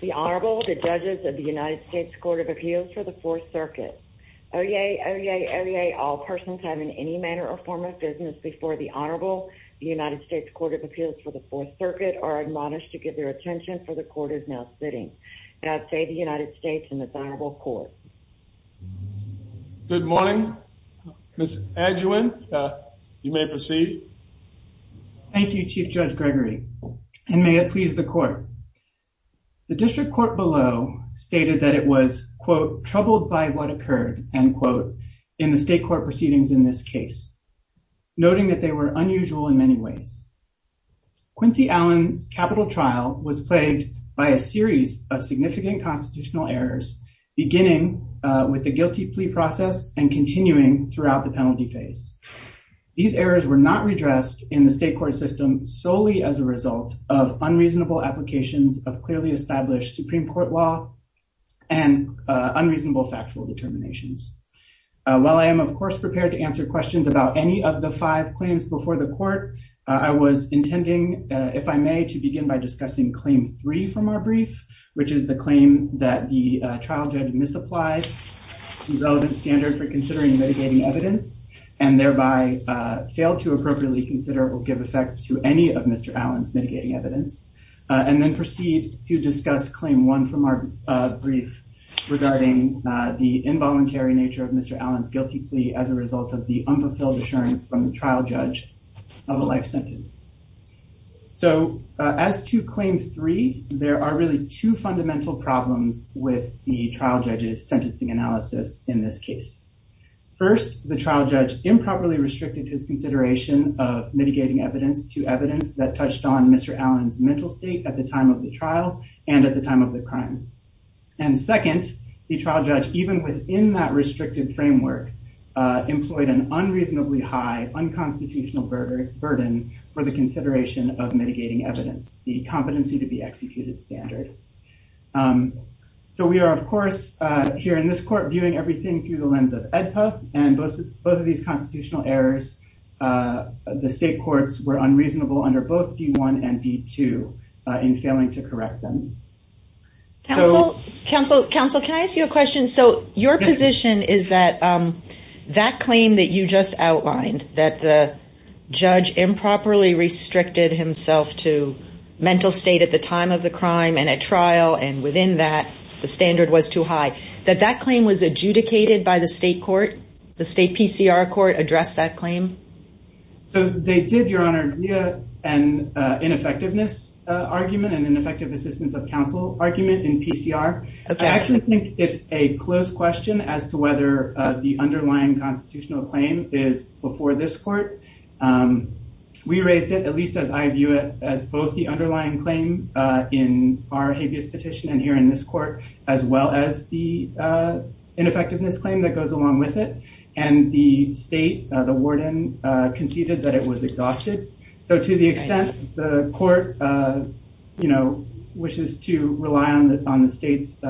The Honorable, the Judges of the United States Court of Appeals for the Fourth Circuit. Oyez, oyez, oyez, all persons having any manner or form of business before the Honorable, the United States Court of Appeals for the Fourth Circuit are admonished to give their attention for the Court is now sitting. God save the United States and its Honorable Court. Good morning. Ms. Adjuan, you may proceed. Thank you, Chief Judge Gregory, and may it please the Court. The District Court below stated that it was, quote, troubled by what occurred, end quote, in the state court proceedings in this case, noting that they were unusual in many ways. Quincy Allen's capital trial was plagued by a series of significant constitutional errors, beginning with the guilty plea process and continuing throughout the penalty phase. These errors were not redressed in the state court system solely as a result of unreasonable applications of clearly established Supreme Court law and unreasonable factual determinations. While I am, of course, prepared to answer questions about any of the five claims before the Court, I was intending, if I may, to begin by discussing Claim 3 from our brief, which is the claim that the trial judge misapplied the relevant standard for considering mitigating evidence and thereby failed to appropriately consider or give effect to any of Mr. Allen's mitigating evidence, and then proceed to discuss Claim 1 from our brief regarding the involuntary nature of Mr. Allen's guilty plea as a result of the unfulfilled assurance from the trial judge of a life sentence. So, as to Claim 3, there are really two fundamental problems with the trial judge's sentencing analysis in this case. First, the trial judge improperly restricted his consideration of mitigating evidence to evidence that touched on Mr. Allen's mental state at the time of the trial and at the time of the crime. And second, the trial judge, even within that restricted framework, employed an unreasonably high unconstitutional burden for the evidence, the competency to be executed standard. So, we are, of course, here in this Court, viewing everything through the lens of AEDPA, and both of these constitutional errors, the state courts were unreasonable under both D1 and D2 in failing to correct them. Counsel, counsel, counsel, can I ask you a question? So, your position is that that claim that you just outlined, that the judge improperly restricted himself to mental state at the time of the crime and at trial, and within that, the standard was too high, that that claim was adjudicated by the state court? The state PCR court addressed that claim? So, they did, Your Honor, via an ineffectiveness argument and an effective assistance of counsel argument in PCR. I actually think it's a close question as to whether the underlying constitutional claim is before this court. We raised it, at least as I view it, as both the underlying claim in our habeas petition and here in this court, as well as the ineffectiveness claim that goes along with it. And the state, the warden, conceded that it was exhausted. So, to the extent the court, you know, wishes to rely on the state's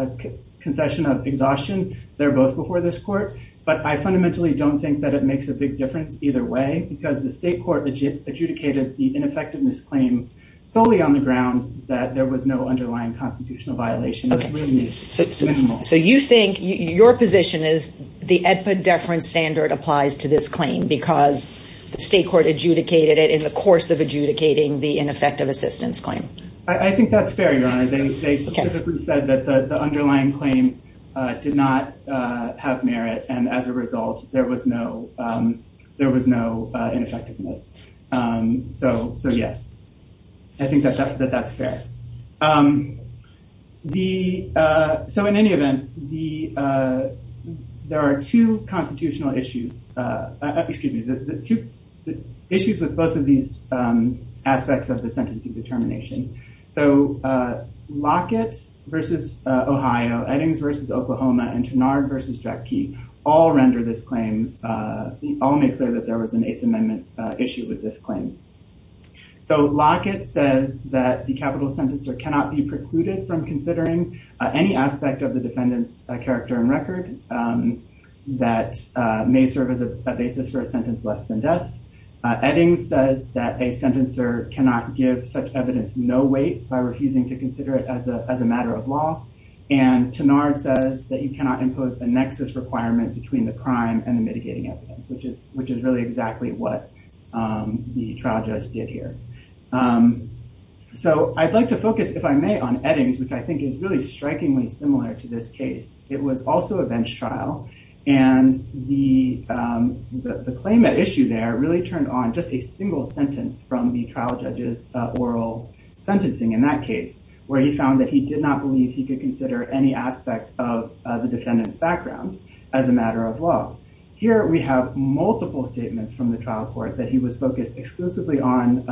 concession of exhaustion, they're both before this court. But I fundamentally don't think that it makes a big difference either way, because the state court adjudicated the ineffectiveness claim solely on the ground that there was no underlying constitutional violation. So, you think your position is the AEDPA deference standard applies to this claim because the state court adjudicated it in the course of adjudicating the ineffective assistance claim? I think that's fair, Your Honor. They specifically said that the underlying claim did not have merit. And as a result, there was no, there was no ineffectiveness. So, yes, I think that that's fair. So, in any event, there are two constitutional issues, excuse me, two issues with both of these aspects of the case. So, Eddings v. Oklahoma and Tenard v. Jack Key all render this claim, all make clear that there was an Eighth Amendment issue with this claim. So, Lockett says that the capital sentencer cannot be precluded from considering any aspect of the defendant's character and record that may serve as a basis for a sentence less than death. Eddings says that a sentencer cannot give such a sentence. Tenard says that you cannot impose the nexus requirement between the crime and the mitigating evidence, which is really exactly what the trial judge did here. So, I'd like to focus, if I may, on Eddings, which I think is really strikingly similar to this case. It was also a bench trial, and the claim at issue there really turned on just a single sentence from the trial judge's oral sentencing in that case, where he found that he did not believe he could consider any aspect of the defendant's background as a matter of law. Here, we have multiple statements from the trial court that he was focused exclusively on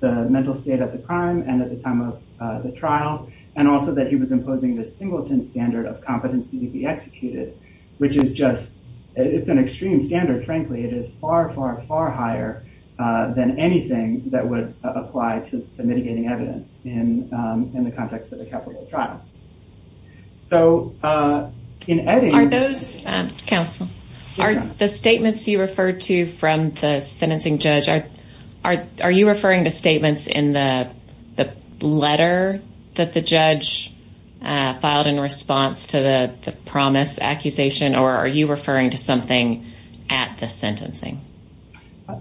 the mental state of the crime and at the time of the trial, and also that he was imposing the singleton standard of competency to be executed, which is just, it's an extreme standard, frankly. It is far, far, far higher than anything that would apply to mitigating evidence in the context of a capital trial. So, in Eddings... Are those, counsel, are the statements you referred to from the sentencing judge, are you referring to statements in the letter that the judge filed in response to the promise accusation, or are you referring to something at the sentencing?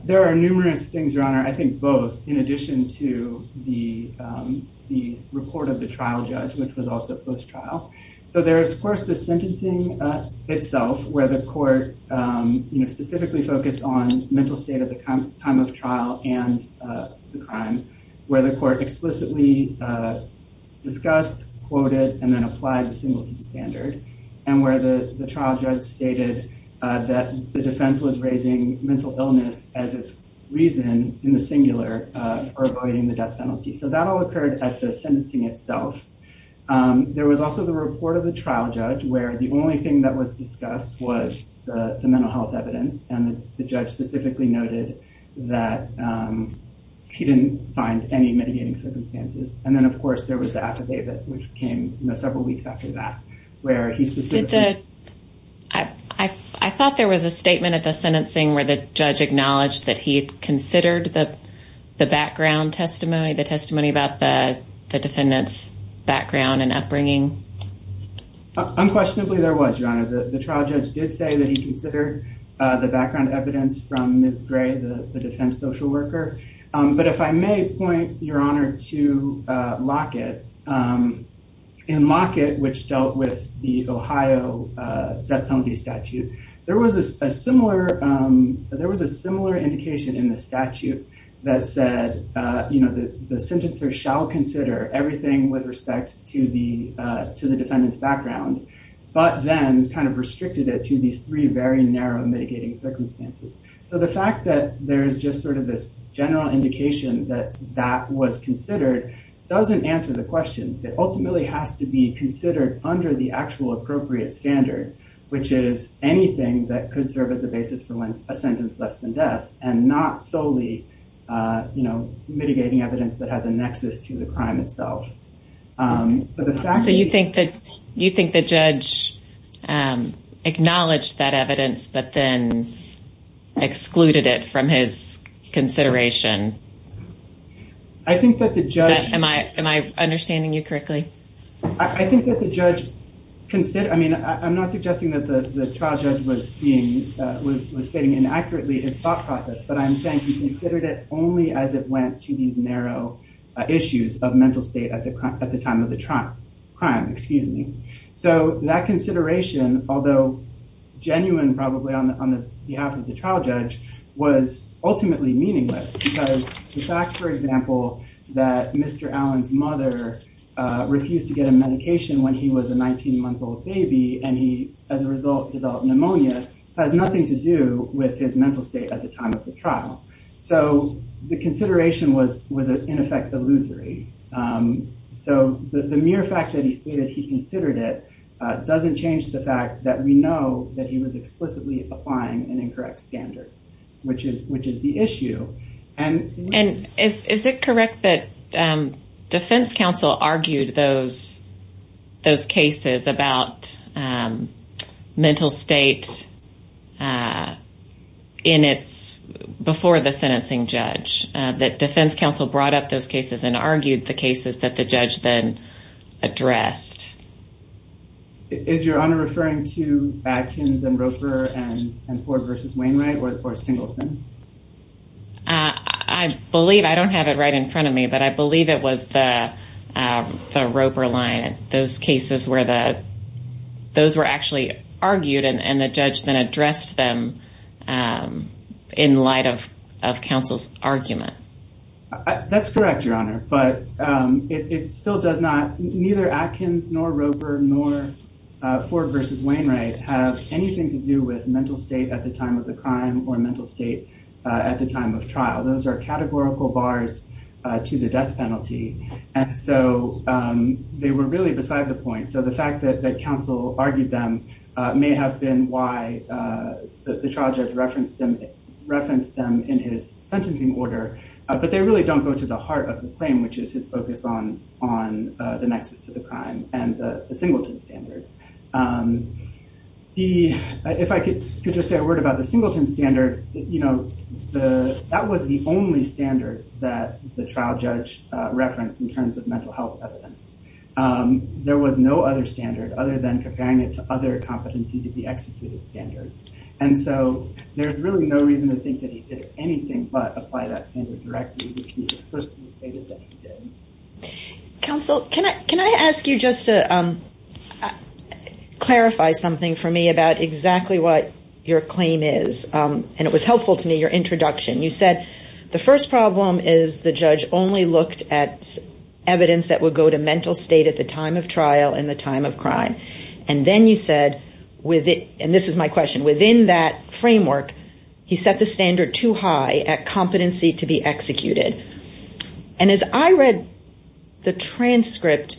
There are numerous things, Your Honor, I think both, in addition to the report of the trial judge, which was also post-trial. So, there is, of course, the sentencing itself, where the court specifically focused on mental state at the time of trial and the crime, where the court explicitly discussed, quoted, and then applied the singleton standard, and where the trial judge stated that the defense was raising mental illness as its reason in the singular, or avoiding the death penalty. So, that all occurred at the sentencing itself. There was also the report of the trial judge, where the only thing that was discussed was the mental health evidence, and the judge specifically noted that he didn't find any mitigating circumstances. And then, of course, there was the affidavit, which came several weeks after that, where he specifically... I thought there was a statement at the sentencing where the judge acknowledged that he considered the background testimony, the testimony about the defendant's background and upbringing. Unquestionably, there was, Your Honor. The trial judge did say that he considered the background evidence from Ms. Gray, the defense social worker. But if I may point, Your Honor, to Lockett, in Lockett, which dealt with the Ohio death penalty statute, there was a similar indication in the statute that said, the sentencer shall consider everything with respect to the defendant's background, but then kind of restricted it to these three very narrow mitigating circumstances. So, the fact that there's just sort of this general indication that that was considered doesn't answer the question. It ultimately has to be considered under the actual appropriate standard, which is anything that could serve as a basis for a sentence less than death, and not solely mitigating evidence that has a nexus to the crime itself. So, you think the judge acknowledged that evidence, but then excluded it from his consideration? I think that the judge... Am I understanding you correctly? I think that the judge... I mean, I'm not suggesting that the trial judge was stating inaccurately his thought process, but I'm saying he considered it only as it went to these narrow issues of mental state at the time of the crime. So, that consideration, although genuine probably on the behalf of the trial judge, was ultimately meaningless because the fact, for example, that Mr. Allen's mother refused to get a medication when he was a 19 month old baby, and he, as a result, developed pneumonia, has nothing to do with his mental state at the time of the trial. So, the consideration was in effect illusory. So, the mere fact that he stated he considered it doesn't change the fact that we know that he was explicitly applying an incorrect standard, which is the issue. And... And is it correct that defense counsel argued those cases about mental state in its... Before the sentencing judge, that defense counsel brought up those cases and argued the cases that the judge then addressed? Is your honor referring to Adkins and Roper and Ford versus Wainwright or Singleton? I believe, I don't have it right in front of me, but I believe it was the Roper line, those cases where the... Those were actually argued and the judge then addressed them in light of counsel's argument. That's correct, your honor, but it still does not... Neither Adkins, nor Roper, nor Ford versus Wainwright have anything to do with mental state at the time of the crime or mental state at the time of trial. Those are categorical bars to the death penalty. And so, they were really beside the point. So, the fact that counsel argued them may have been why the trial judge referenced them in his claim, which is his focus on the nexus to the crime and the Singleton standard. If I could just say a word about the Singleton standard, that was the only standard that the trial judge referenced in terms of mental health evidence. There was no other standard other than comparing it to other competency to be executed standards. And so, there's really no reason to think that he did anything but apply that standard directly, which he explicitly stated that he did. Counsel, can I ask you just to clarify something for me about exactly what your claim is? And it was helpful to me, your introduction. You said, the first problem is the judge only looked at evidence that would go to mental state at the time of trial and the time of crime. And then you said, and this is my question, within that framework, he set the standard too high at competency to be executed. And as I read the transcript,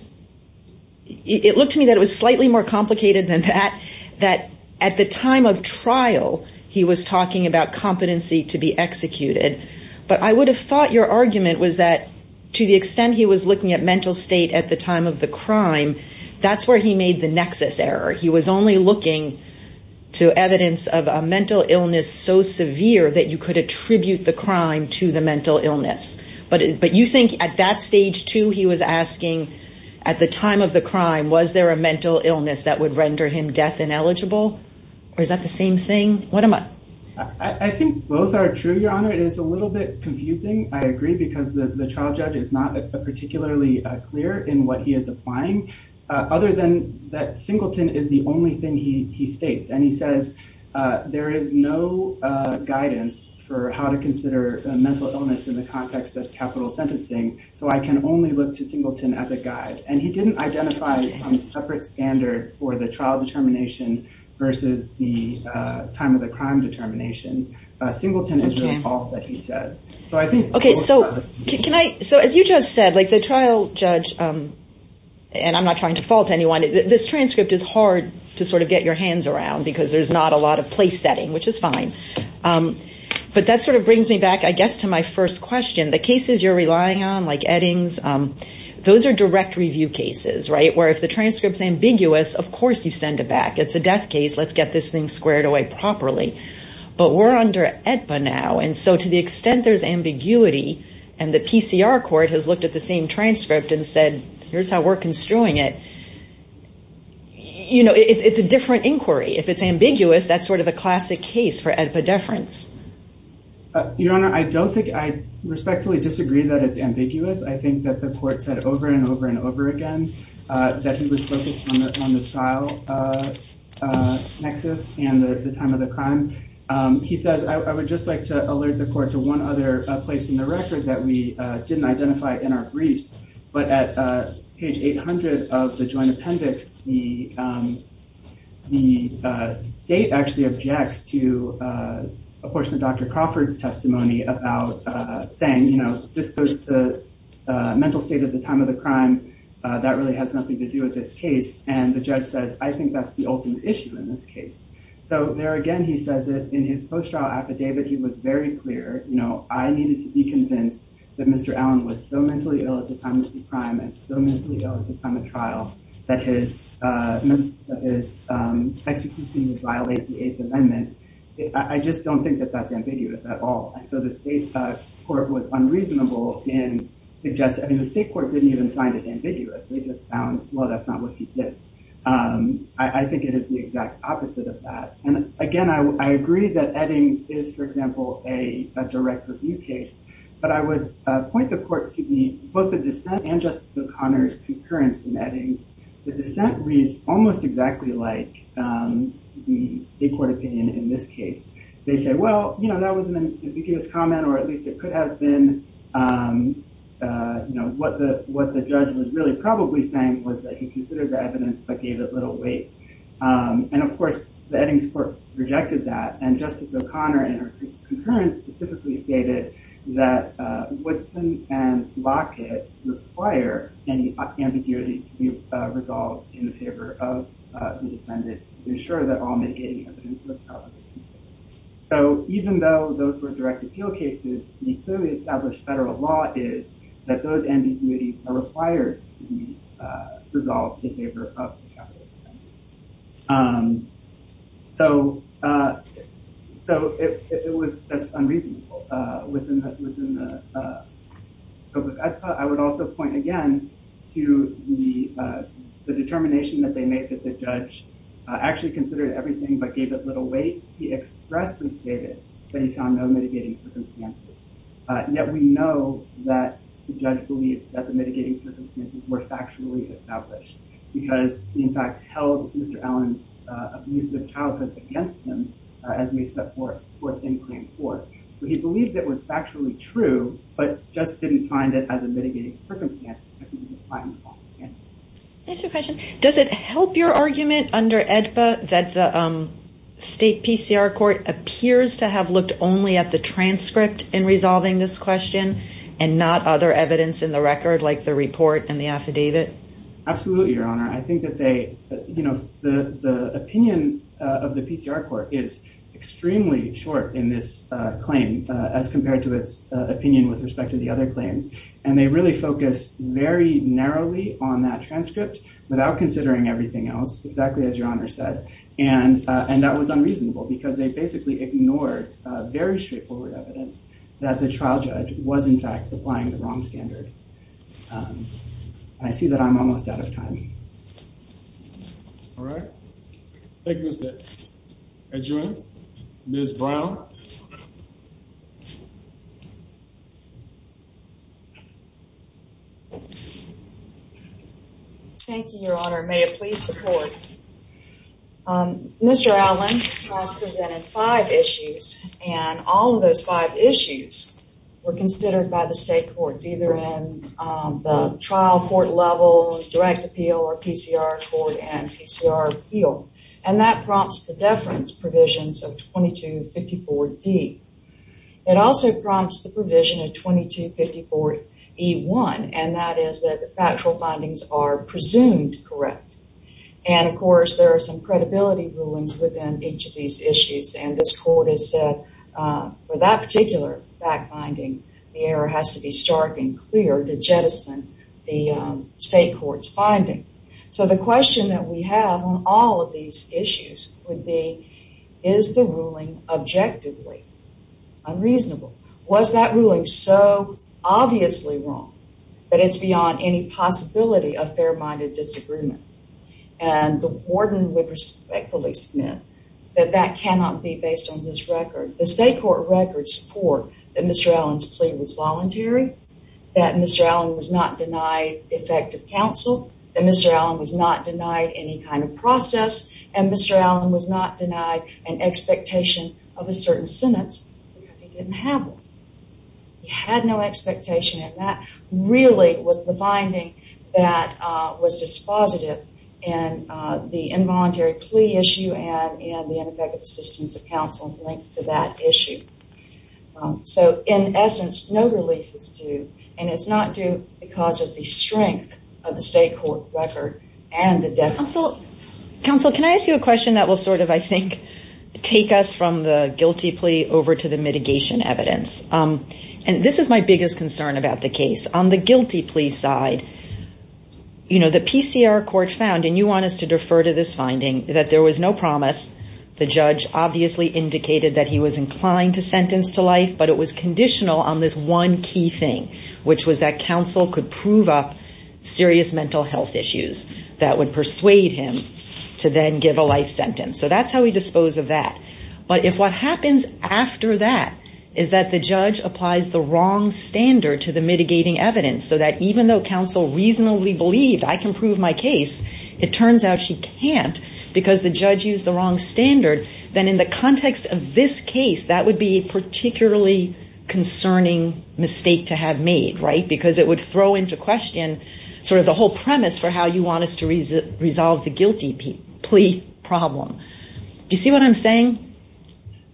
it looked to me that it was slightly more complicated than that, that at the time of trial, he was talking about competency to be executed. But I would have thought your argument was that to the extent he was looking at mental state at the time of the crime, that's where he made the nexus error. He was only looking to evidence of a mental illness so severe that you could attribute the crime to the mental illness. But you think at that stage too, he was asking, at the time of the crime, was there a mental illness that would render him death ineligible? Or is that the same thing? What am I? I think both are true, your Honor. It is a little bit confusing. I agree, because the trial judge is not particularly clear in what he is applying, other than that Singleton is the only thing he states. And he says, there is no guidance for how to consider mental illness in the context of capital sentencing. So I can only look to Singleton as a guide. And he didn't identify some separate standard for the trial determination versus the time of the crime determination. Singleton is the only one that he said. Okay. So can I, so as you just said, like the trial judge, and I'm not trying to fault anyone, this transcript is hard to sort of get your hands around because there's not a lot of place setting, which is fine. But that sort of brings me back, I guess, to my first question. The cases you're relying on, like Eddings, those are direct review cases, right? Where if the transcript is ambiguous, of course, you send it back. It's a death case. Let's get this thing So to the extent there's ambiguity, and the PCR court has looked at the same transcript and said, here's how we're construing it. You know, it's a different inquiry. If it's ambiguous, that's sort of a classic case for epidepherence. Your Honor, I don't think I respectfully disagree that it's ambiguous. I think that the court said over and over and over again, that he was focused on the trial and the time of the crime. He says, I would just like to alert the court to one other place in the record that we didn't identify in our briefs. But at page 800 of the joint appendix, the state actually objects to a portion of Dr. Crawford's testimony about saying, you know, this goes to mental state at the time of the crime. That really has nothing to do with this case. And the judge says, I think that's the ultimate issue in this case. So there again, he says it in his post-trial affidavit. He was very clear, you know, I needed to be convinced that Mr. Allen was so mentally ill at the time of the crime and so mentally ill at the time of trial that his execution would violate the Eighth Amendment. I just don't think that that's ambiguous at all. So the state court was unreasonable in suggesting, I mean, the state court didn't even find it ambiguous. They just found, well, that's not what he did. I think it is the exact opposite of that. And again, I agree that Eddings is, for example, a direct review case, but I would point the court to both the dissent and Justice O'Connor's concurrence in Eddings. The dissent reads almost exactly like the state court opinion in this case. They say, well, you know, that was an ambiguous comment, or at least it could have been, um, uh, you know, what the, what the judge was really probably saying was that he considered the evidence, but gave it little weight. Um, and of course the Eddings court rejected that. And Justice O'Connor in her concurrence specifically stated that, uh, Woodson and Lockett require any ambiguity to be resolved in the favor of the defendant to ensure that all mitigating evidence was valid. So even though those were direct appeal cases, the established federal law is that those ambiguities are required to be, uh, resolved in favor of the defendant. Um, so, uh, so it was unreasonable, uh, within the, within the, uh, I would also point again to the, uh, the determination that they made that the judge actually considered everything, but gave it little weight. He expressed and stated that he found no mitigating circumstances. Uh, yet we know that the judge believed that the mitigating circumstances were factually established because he in fact held Mr. Allen's, uh, abusive childhood against him, uh, as we set forth, forth in claim four. So he believed it was factually true, but just didn't find it as a mitigating circumstance. That's a question. Does it help your argument under AEDPA that the, um, state PCR court appears to have looked only at the transcript in resolving this question and not other evidence in the record, like the report and the affidavit? Absolutely, Your Honor. I think that they, you know, the, the opinion of the PCR court is extremely short in this claim, uh, as compared to its opinion with respect to the other claims. And they really focused very narrowly on that transcript without considering everything else, exactly as Your Honor said. And, uh, and that was unreasonable because they basically ignored very straightforward evidence that the trial judge was in fact applying the wrong standard. Um, I see that I'm almost out of time. All right. Thank you, Mr. Edgerton. Ms. Brown. Thank you, Your Honor. May it please support Um, Mr. Allen, I've presented five issues and all of those five issues were considered by the state courts, either in, um, the trial court level, direct appeal, or PCR court and PCR appeal. And that prompts the deference provisions of 2254D. It also prompts the provision of 2254E1, and that is that the factual findings are presumed correct. And of course, there are some credibility rulings within each of these issues. And this court has said, uh, for that particular fact finding, the error has to be stark and clear to jettison the, um, state court's finding. So the question that we have on all of these issues would be, is the ruling objectively unreasonable? Was that ruling so obviously wrong that it's beyond any possibility of fair-minded disagreement? And the warden would respectfully submit that that cannot be based on this record. The state court records support that Mr. Allen's plea was voluntary, that Mr. Allen was not denied effective counsel, that Mr. Allen was not denied any kind of process, and Mr. Allen was not denied an effective counsel. He had no expectation, and that really was the finding that, uh, was dispositive in, uh, the involuntary plea issue and in the ineffective assistance of counsel linked to that issue. Um, so in essence, no relief is due, and it's not due because of the strength of the state court record and the deference. Counsel, counsel, can I ask you a question that will sort of, I think, take us from the guilty plea over to the mitigation evidence. Um, and this is my biggest concern about the case. On the guilty plea side, you know, the PCR court found, and you want us to defer to this finding, that there was no promise. The judge obviously indicated that he was inclined to sentence to life, but it was conditional on this one key thing, which was that counsel could prove up serious mental health issues that would persuade him to then give a life sentence. So that's how we dispose of that. But if what happens after that is that the judge applies the wrong standard to the mitigating evidence so that even though counsel reasonably believed, I can prove my case, it turns out she can't because the judge used the wrong standard, then in the context of this case, that would be a particularly concerning mistake to have made, right? Because it would throw into question sort of the whole problem. Do you see what I'm saying?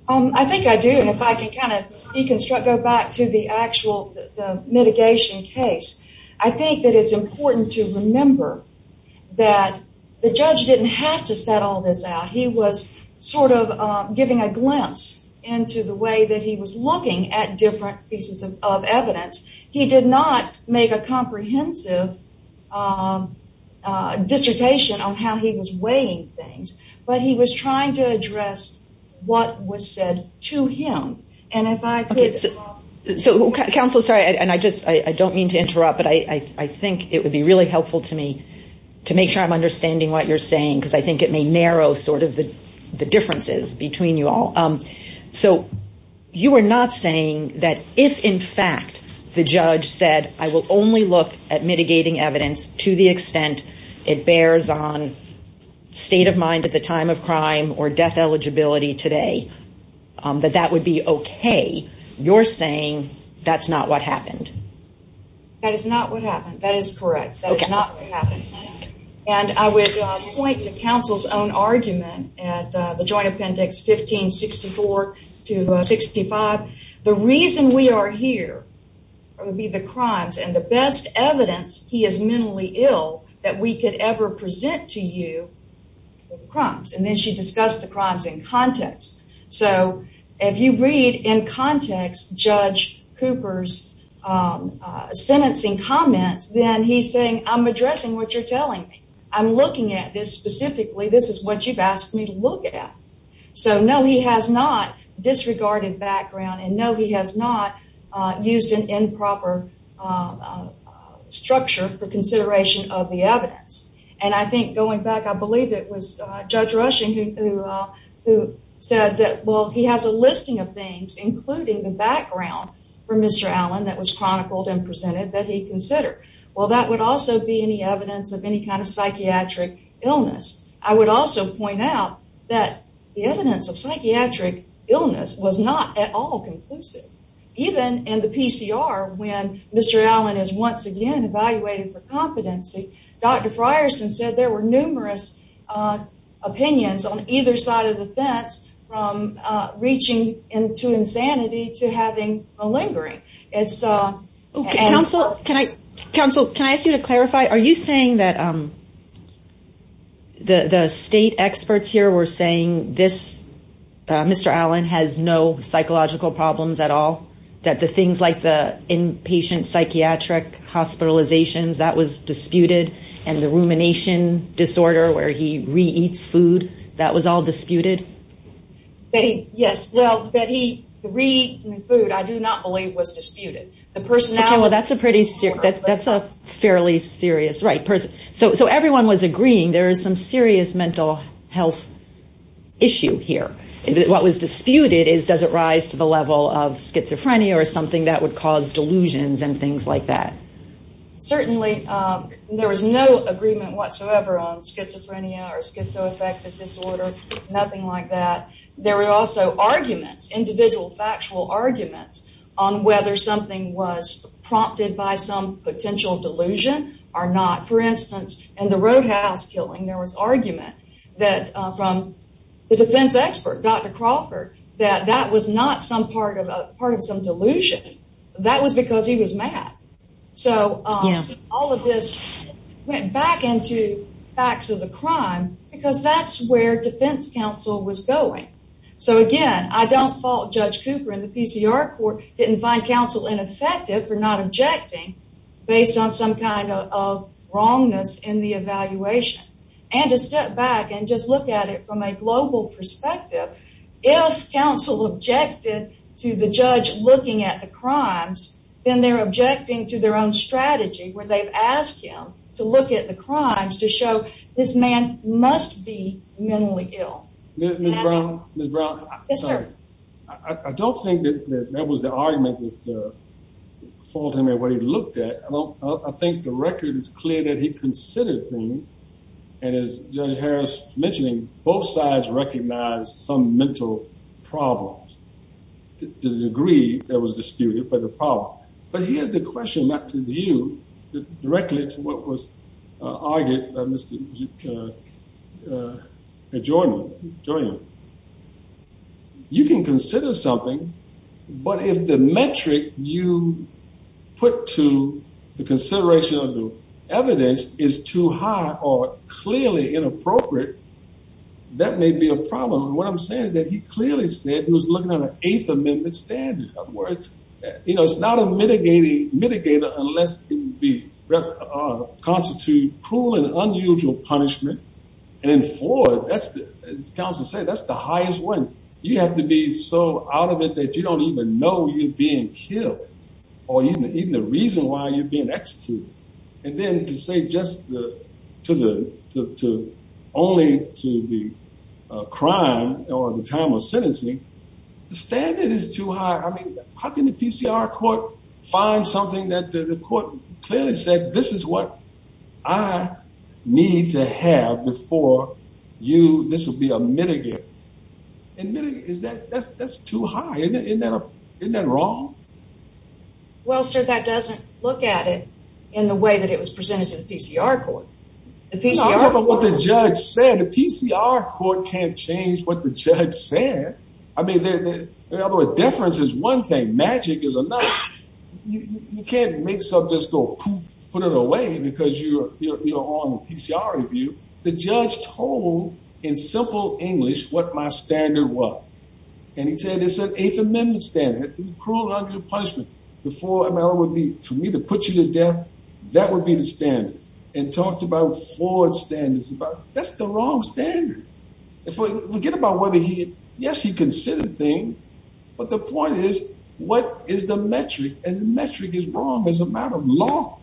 Um, I think I do. And if I can kind of deconstruct, go back to the actual mitigation case, I think that it's important to remember that the judge didn't have to set all this out. He was sort of giving a glimpse into the way that he was looking at different pieces of evidence. He did not make a but he was trying to address what was said to him. And if I could... Okay. So counsel, sorry, and I just, I don't mean to interrupt, but I think it would be really helpful to me to make sure I'm understanding what you're saying, because I think it may narrow sort of the differences between you all. So you are not saying that if in fact the judge said, I will only look at mitigating evidence to the extent it bears on state of mind at the time of crime or death eligibility today, that that would be okay. You're saying that's not what happened. That is not what happened. That is correct. That is not what happened. And I would point to counsel's own argument at the joint appendix 1564 to 1565. The reason we are here would be the crimes and the best evidence he is mentally ill that we could ever present to you for the crimes. And then she discussed the crimes in context. So if you read in context, Judge Cooper's sentencing comments, then he's saying, I'm addressing what you're telling me. I'm looking at this specifically. This is what you've asked me to look at. So no, he has not disregarded background and no, he has not used an improper structure for consideration of the evidence. And I think going back, I believe it was Judge Rushing who said that, well, he has a listing of things, including the background for Mr. Allen that was chronicled and presented that he considered. Well, that would also be any evidence of any kind of psychiatric illness. I would also point out that the evidence of psychiatric illness was not at all conclusive. Even in the PCR, when Mr. Allen is once again evaluated for competency, Dr. Frierson said there were numerous opinions on either side of the fence from reaching into insanity to having malingering. Counsel, can I ask you to clarify? Are you saying that the state experts here were saying this Mr. Allen has no psychological problems at all? That the things like the inpatient psychiatric hospitalizations, that was disputed and the rumination disorder where he re-eats food, that was all disputed? Yes, well, that he re-eats food I do not believe was disputed. Okay, well, that's a fairly serious, right. So everyone was agreeing there is some serious mental health issue here. What was disputed is does it rise to the level of schizophrenia or something that would cause delusions and things like that? Certainly. There was no agreement whatsoever on schizophrenia or something like that. There were also arguments, individual factual arguments on whether something was prompted by some potential delusion or not. For instance, in the roadhouse killing, there was argument that from the defense expert, Dr. Crawford, that that was not part of some delusion. That was because he was mad. So all of this went back into facts of the crime because that's where defense counsel was going. So again, I don't fault Judge Cooper and the PCR court didn't find counsel ineffective for not objecting based on some kind of wrongness in the evaluation. And to step back and just look at it from a global perspective, if counsel objected to the judge looking at the crimes, then they're objecting to their own strategy where they've asked him to look at the crimes to show this man must be mentally ill. Ms. Brown, I don't think that that was the argument that faulted him in what he looked at. I think the record is clear that he considered things and as Judge Harris mentioned, both sides recognized some mental problems to the degree that was disputed by the problem. But here's the question not to you, directly to what was argued by Mr. Joyner. You can consider something, but if the metric you put to the consideration of the evidence is too high or clearly inappropriate, that may be a problem. What I'm saying is that he clearly said he was looking at an Eighth Amendment standard. In other words, you know, it's not a mitigating mitigator unless it would constitute cruel and unusual punishment. And in Florida, as counsel said, that's the highest one. You have to be so out of it that you don't even know you're being killed or even the reason why you're being executed. And then to say just only to the crime or the time of sentencing, the standard is too high. I mean, how can the PCR court find something that the court clearly said? This is what I need to have before you. This will be a mitigator. And that's too high. Isn't that wrong? Well, sir, that doesn't look at it in the way that it was presented to the PCR court. The judge said the PCR court can't change what the judge said. I mean, the difference is one thing. Magic is a knife. You can't mix up, just go put it away because you're on the PCR review. The judge told, in simple English, what my standard was. And he said, it's an Eighth Amendment standard. Cruel and unusual punishment. The four ML would be for me to put you death. That would be the standard. And talked about Ford standards. That's the wrong standard. Forget about whether he, yes, he considered things. But the point is, what is the metric? And the metric is wrong as a matter of law.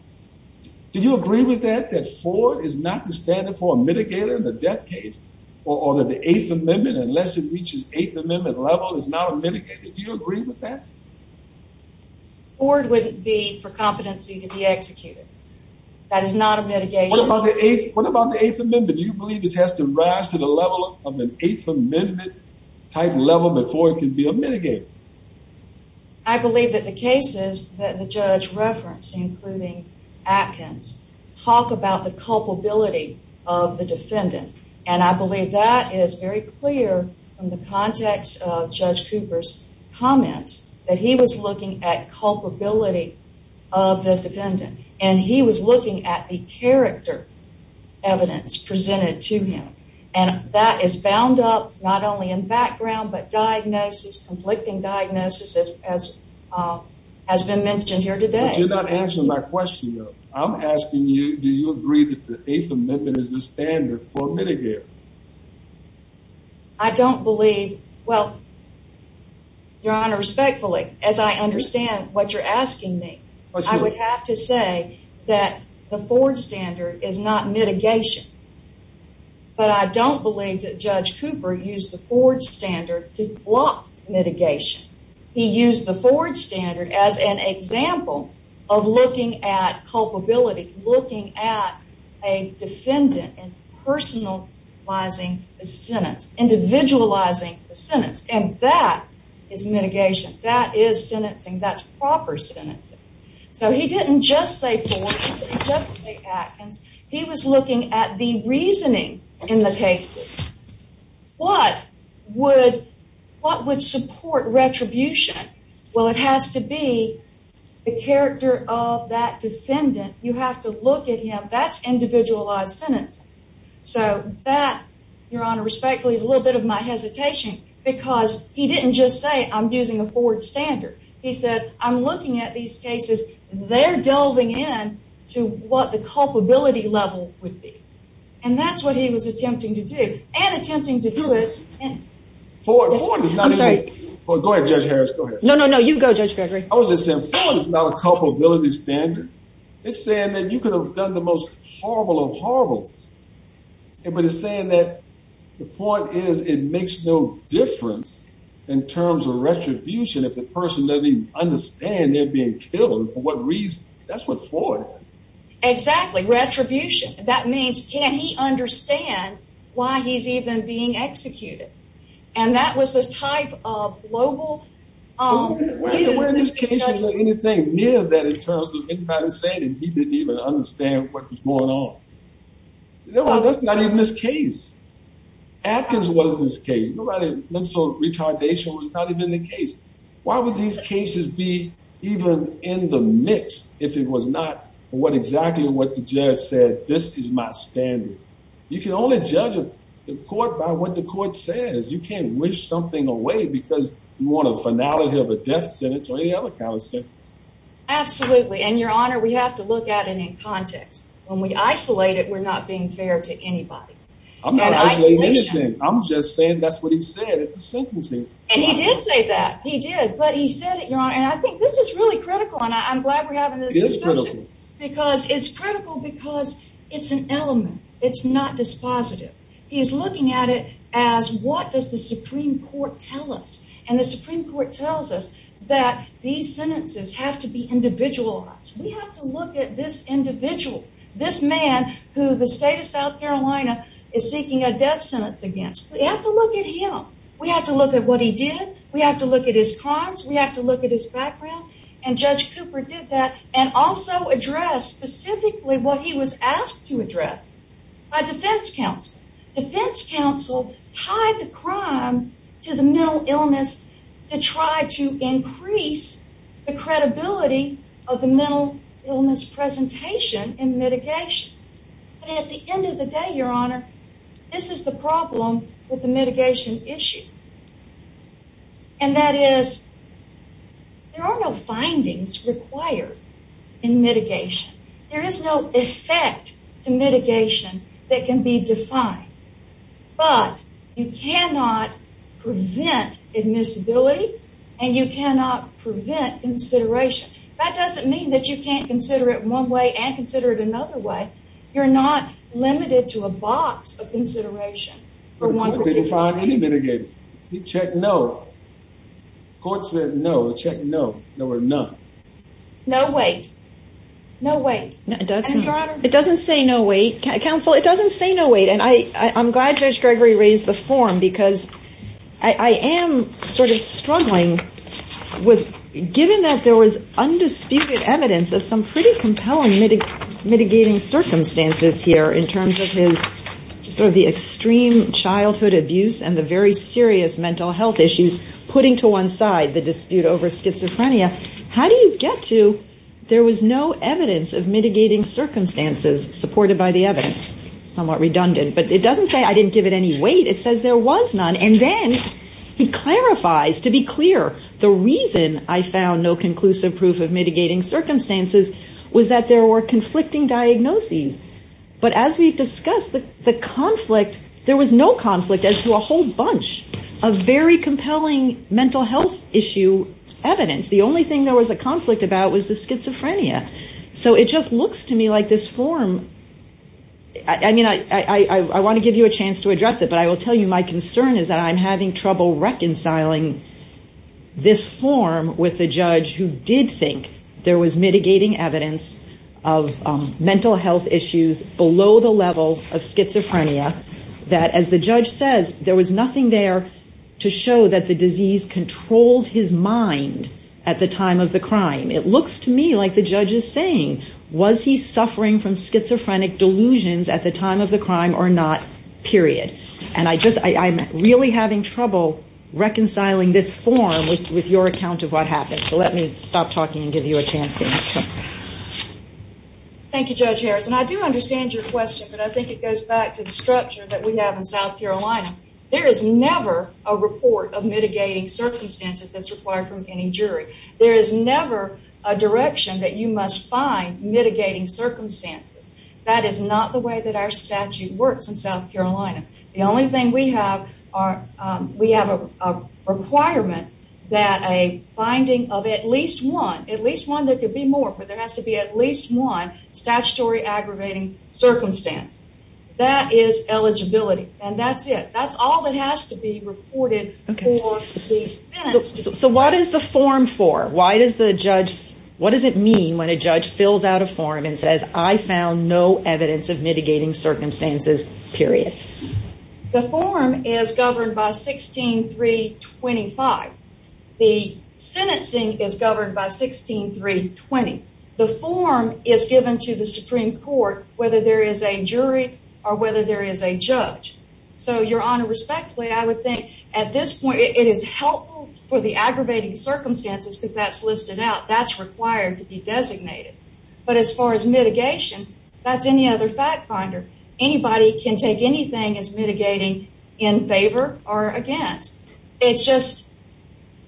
Do you agree with that? That Ford is not the standard for a mitigator in the death case, or that the Eighth Amendment, unless it reaches Eighth Amendment level, is not a mitigator. Do you agree with that? Ford wouldn't be for competency to be executed. That is not a mitigation. What about the Eighth Amendment? Do you believe this has to rise to the level of an Eighth Amendment type level before it can be a mitigator? I believe that the cases that the judge referenced, including Atkins, talk about the culpability of the defendant. And I believe that is very clear from the he was looking at culpability of the defendant, and he was looking at the character evidence presented to him. And that is bound up not only in background, but diagnosis, conflicting diagnosis, as has been mentioned here today. You're not answering my question. I'm asking you. Do you agree that the Eighth Amendment is the standard for mitigator? I don't believe, well, Your Honor, respectfully, as I understand what you're asking me, I would have to say that the Ford standard is not mitigation. But I don't believe that Judge Cooper used the Ford standard to block mitigation. He used the Ford standard as an example of looking at culpability, looking at a sentence, individualizing the sentence. And that is mitigation. That is sentencing. That's proper sentencing. So he didn't just say Ford, he didn't just say Atkins. He was looking at the reasoning in the cases. What would support retribution? Well, it has to be the character of that defendant. You have to look at him. That's individualized sentencing. So that, Your Honor, respectfully, is a little bit of my hesitation because he didn't just say I'm using a Ford standard. He said, I'm looking at these cases. They're delving in to what the culpability level would be. And that's what he was attempting to do and attempting to do it for. Go ahead, Judge Harris. No, no, no. You go, Judge Gregory. I was just saying, Ford is not a culpability standard. It's saying that you could have done the most horrible of horribles. But it's saying that the point is it makes no difference in terms of retribution if the person doesn't even understand they're being killed. And for what reason? That's what Ford is. Exactly. Retribution. That means can he understand why he's even being executed? And that was the type of global where this case was anything near that in terms of anybody saying that he didn't even understand what was going on. No, that's not even this case. Atkins wasn't this case. Nobody looks so retardation was not even the case. Why would these cases be even in the mix if it was not? What? Exactly what the judge said? This is my standard. You can only judge the court by what the court says. You can't wish something away because you want to finality of a death sentence or any other kind of sentence. Absolutely. And, Your Honor, we have to look at it in context. When we isolate it, we're not being fair to anybody. I'm not saying anything. I'm just saying that's what he said at the sentencing. And he did say that he did. But he said it, Your Honor. And I think this is really critical, and I'm glad we're having this because it's critical because it's an element. It's not dispositive. He's looking at it as what does the Supreme Court tell us? And the Supreme Court tells us that these sentences have to be individualized. We have to look at this individual, this man who the state of South Carolina is seeking a death sentence against. We have to look at him. We have to look at what he did. We have to look at his crimes. We have to look at his background. And Judge Cooper did that and also address specifically what he was asked to address by defense counsel. Defense counsel tied the crime to the mental illness to try to increase the credibility of the mental illness presentation and mitigation. And at the end of the day, Your Honor, this is the problem with the mitigation issue. And that is there are no findings required in mitigation. There is no effect to mitigation that can be defined. But you cannot prevent admissibility, and you cannot prevent consideration. That doesn't mean that you can't consider it one way and consider it another way. You're not limited to a box of consideration for one particular state. You can't define any mitigation. You check no. The court said no. The check no. No or none. No weight. No weight. It doesn't say no weight, counsel. It doesn't say no weight. And I'm glad Judge Gregory raised the form because I am sort of struggling with, given that there was undisputed evidence of some pretty compelling mitigating circumstances here in terms of his sort of the extreme childhood abuse and the very serious mental health issues, putting to one side the dispute over schizophrenia, how do you get to there was no evidence of mitigating circumstances supported by the evidence? Somewhat redundant. But it doesn't say I didn't give it any weight. It says there was none. And then he clarifies, to be clear, the reason I found no conclusive proof of mitigating diagnoses. But as we've discussed, the conflict, there was no conflict as to a whole bunch of very compelling mental health issue evidence. The only thing there was a conflict about was the schizophrenia. So it just looks to me like this form. I mean, I want to give you a chance to address it, but I will tell you my concern is that I'm having trouble reconciling this form with the mental health issues below the level of schizophrenia that, as the judge says, there was nothing there to show that the disease controlled his mind at the time of the crime. It looks to me like the judge is saying, was he suffering from schizophrenic delusions at the time of the crime or not, period. And I'm really having trouble reconciling this form with your account of what happened. So let me stop talking and give you a chance to answer. Thank you, Judge Harris. And I do understand your question, but I think it goes back to the structure that we have in South Carolina. There is never a report of mitigating circumstances that's required from any jury. There is never a direction that you must find mitigating circumstances. That is not the way that our statute works in South Carolina. The only thing we have are, we have a requirement that a finding of at least one, at least one that could be more, but there has to be at least one statutory aggravating circumstance. That is eligibility and that's it. That's all that has to be reported. So what is the form for? Why does the judge, what does it mean when a judge fills out a form and says, I found no evidence of mitigating circumstances, period? The form is governed by 16.3.20. The form is given to the Supreme Court, whether there is a jury or whether there is a judge. So, Your Honor, respectfully, I would think at this point it is helpful for the aggravating circumstances because that's listed out. That's required to be designated. But as far as mitigation, that's any other fact finder. Anybody can take anything as mitigating in favor or against. It's just,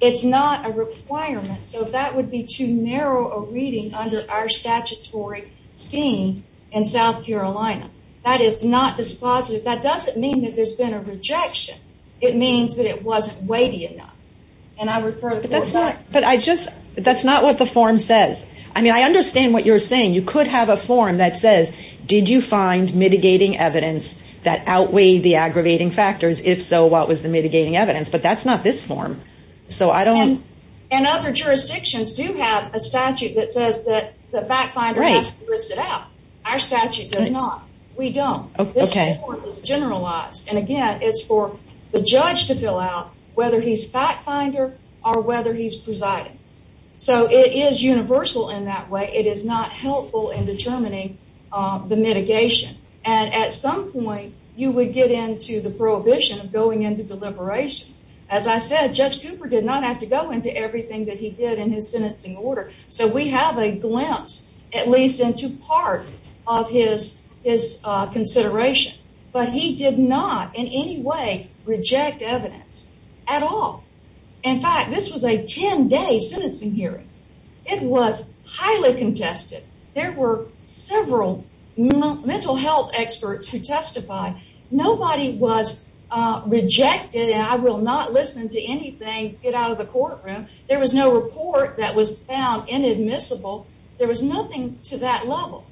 it's not a requirement. So that would be too narrow a reading under our statutory scheme in South Carolina. That is not dispositive. That doesn't mean that there's been a rejection. It means that it wasn't weighty enough. And I refer the court back. But I just, that's not what the form says. I mean, I understand what you're saying. You could have a form that says, did you find mitigating evidence that was the mitigating evidence? But that's not this form. So I don't. And other jurisdictions do have a statute that says that the fact finder has to list it out. Our statute does not. We don't. This form is generalized. And again, it's for the judge to fill out whether he's fact finder or whether he's presiding. So it is universal in that way. It is not helpful in determining the mitigation. And at some point you would get into the prohibition of going into deliberations. As I said, Judge Cooper did not have to go into everything that he did in his sentencing order. So we have a glimpse at least into part of his, his consideration. But he did not in any way reject evidence at all. In fact, this was a 10 day sentencing hearing. It was highly contested. There were several mental health experts who testified. Nobody was rejected. And I will not listen to anything. Get out of the courtroom. There was no report that was found inadmissible. There was nothing to that level.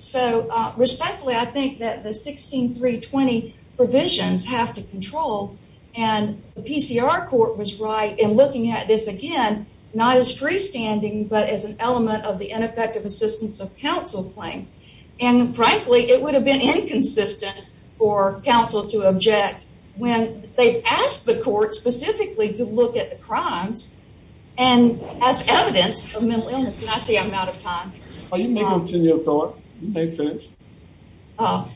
So respectfully, I think that the 16320 provisions have to control. And the PCR court was right in looking at this again, not as freestanding, but as an element of the ineffective assistance of counsel claim. And frankly, it would have been inconsistent for counsel to object when they asked the court specifically to look at the crimes and as evidence of mental illness. And I see I'm out of time. You may continue to talk. You may finish. Oh,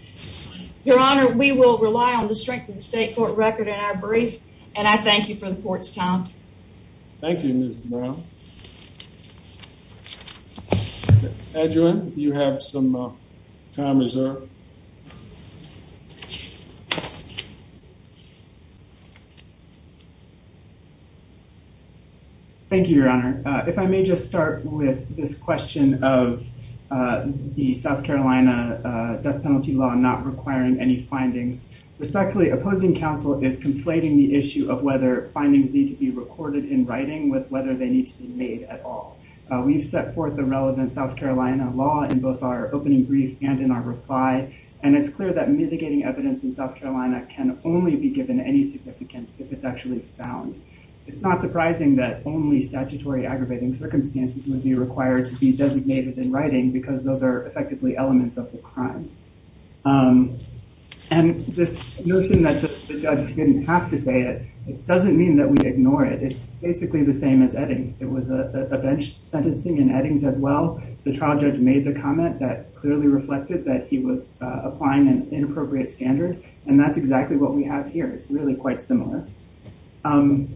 Your Honor, we will rely on the strength of the state court record in our brief. And I thank you for the court's time. Thank you, Mr Brown. Edwin, you have some time reserved. Thank you, Your Honor. If I may just start with this question of, uh, the South Carolina death penalty law not requiring any findings respectfully opposing counsel is conflating the issue of whether findings need to be recorded in writing with whether they need to be made at all. We've set forth a relevant South Carolina law in both our opening brief and in our reply, and it's clear that mitigating evidence in South Carolina can only be given any significance if it's actually found. It's not surprising that only statutory aggravating circumstances would be required to be designated in writing because those are effectively elements of the crime. Um, and this notion that the judge didn't have to say it doesn't mean that we ignore it. It's basically the same as Eddings. It was a bench sentencing in Eddings as well. The trial judge made the comment that clearly reflected that he was applying an inappropriate standard, and that's exactly what we have here. It's really quite similar. Um,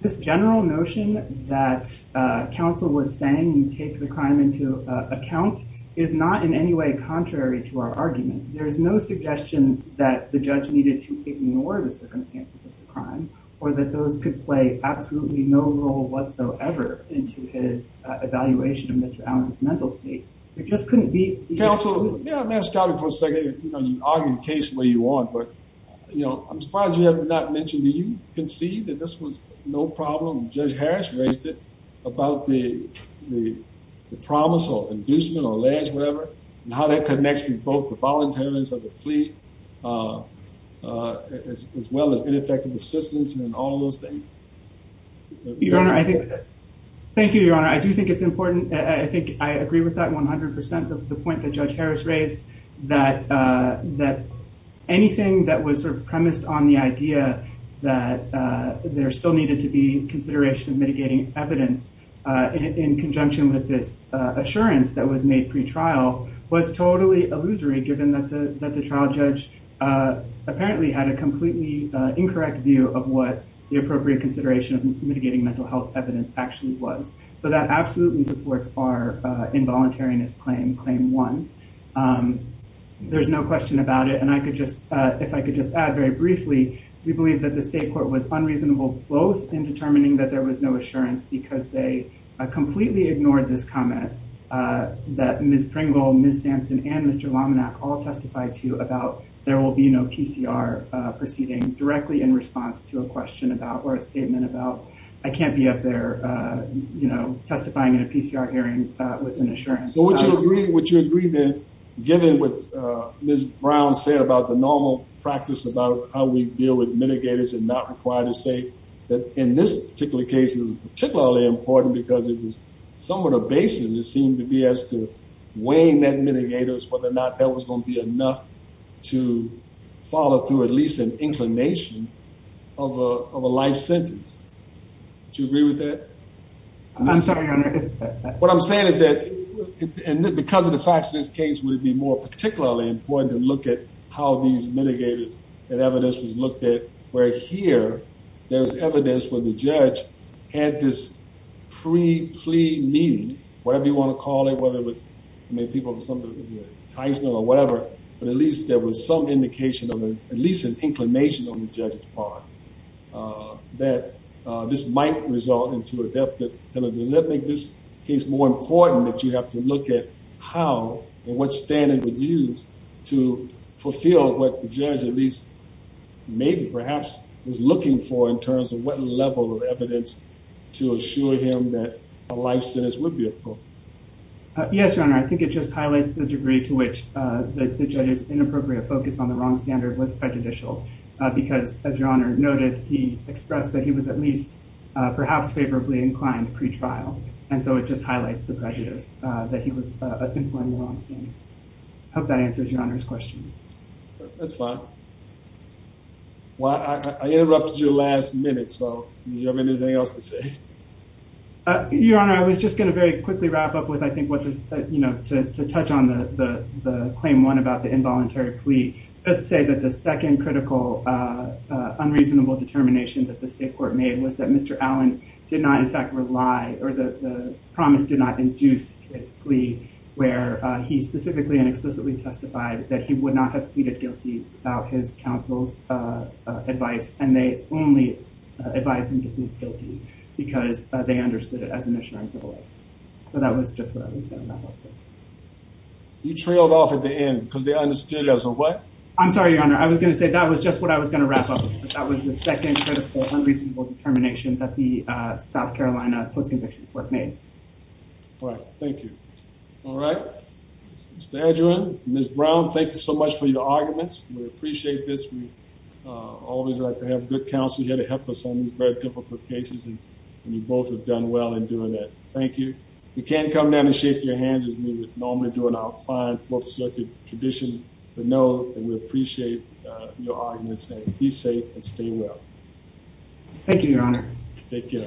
this general notion that, uh, counsel was saying, take the crime into account is not in any way contrary to our argument. There is no suggestion that the judge needed to ignore the circumstances of the crime or that those could play absolutely no role whatsoever into his evaluation of Mr Allen's mental state. It just couldn't be counsel. Yeah, I'm asked out for a second. You know, you argued case where you want, but, you know, I'm surprised you have not mentioned that you can see that this was no problem. Judge Harris raised it about the promise or inducement or lands, whatever, and how that connects with both the volunteers of the plea, uh, as well as ineffective assistance and all those things. Your Honor, I think. Thank you, Your Honor. I do think it's important. I think I agree with that 100% of the point that Judge Harris raised that, uh, that anything that was sort of premised on the idea that, uh, there still needed to be consideration of mitigating evidence in conjunction with this assurance that was made pre trial was totally illusory, given that the trial judge, uh, apparently had a completely incorrect view of what the appropriate consideration of mitigating mental health evidence actually was. So that absolutely supports our involuntariness claim. Claim one. Um, there's no question about it. And I could just if I could just add very briefly, we believe that the state court was unreasonable, both in determining that there was no assurance because they completely ignored this comment, uh, that Miss Pringle, Miss Sampson and Mr Laminac all testified to about there will be no PCR proceeding directly in response to a question about or a statement about. I can't be up there, uh, you know, testifying in a PCR hearing with an assurance. Would you agree? Would you agree that given with, uh, Ms Brown said about the normal practice about how we deal with mitigators and not required to say that in this particular case is particularly important because it was some of the basis. It seemed to be as to weighing that mitigators, whether or not that was gonna be enough to follow through at least an inclination of a life sentence. Do you agree with that? I'm sorry. What I'm saying is that because of the facts of this case would be more particularly important to look at how these mitigators and evidence was pre plea meeting, whatever you want to call it, whether it was I mean, people with some of the Heisman or whatever, but at least there was some indication of at least an inclination on the judge's part, uh, that this might result into a death penalty. Does that make this case more important that you have to look at how and what standard would use to fulfill what the judge at least maybe perhaps was looking for in terms of what level of evidence to assure him that a life sentence would be. Yes, Your Honor. I think it just highlights the degree to which the judge's inappropriate focus on the wrong standard was prejudicial because, as Your Honor noted, he expressed that he was at least perhaps favorably inclined pretrial. And so it just highlights the prejudice that he was informing the wrong thing. Hope that answers your honor's question. That's fine. Well, I interrupted your last minute, so you have anything else to say? Your Honor, I was just gonna very quickly wrap up with, I think, what was, you know, to touch on the claim one about the involuntary plea. Let's say that the second critical, uh, unreasonable determination that the state court made was that Mr Allen did not, in fact, rely or the promise did not induce his plea where he specifically and explicitly testified that he would not have pleaded guilty about his counsel's, uh, advice, and they only advised him to plead guilty because they understood it as an assurance of lives. So that was just what I was gonna wrap up with. You trailed off at the end because they understood it as a what? I'm sorry, Your Honor. I was gonna say that was just what I was gonna wrap up with. That was the second critical, unreasonable determination that the South Carolina Post-Conviction Court made. All right. Thank you. All right. Mr. Edgerton, Ms. Brown, thank you so much for your arguments. We appreciate this. We always like to have good counsel here to help us on these very difficult cases, and you both have done well in doing that. Thank you. You can't come down and shake your hands as we would normally do in our fine Fourth Circuit tradition. But no, we appreciate your arguments. Be safe and stay well. Thank you, Your Honor. Take care.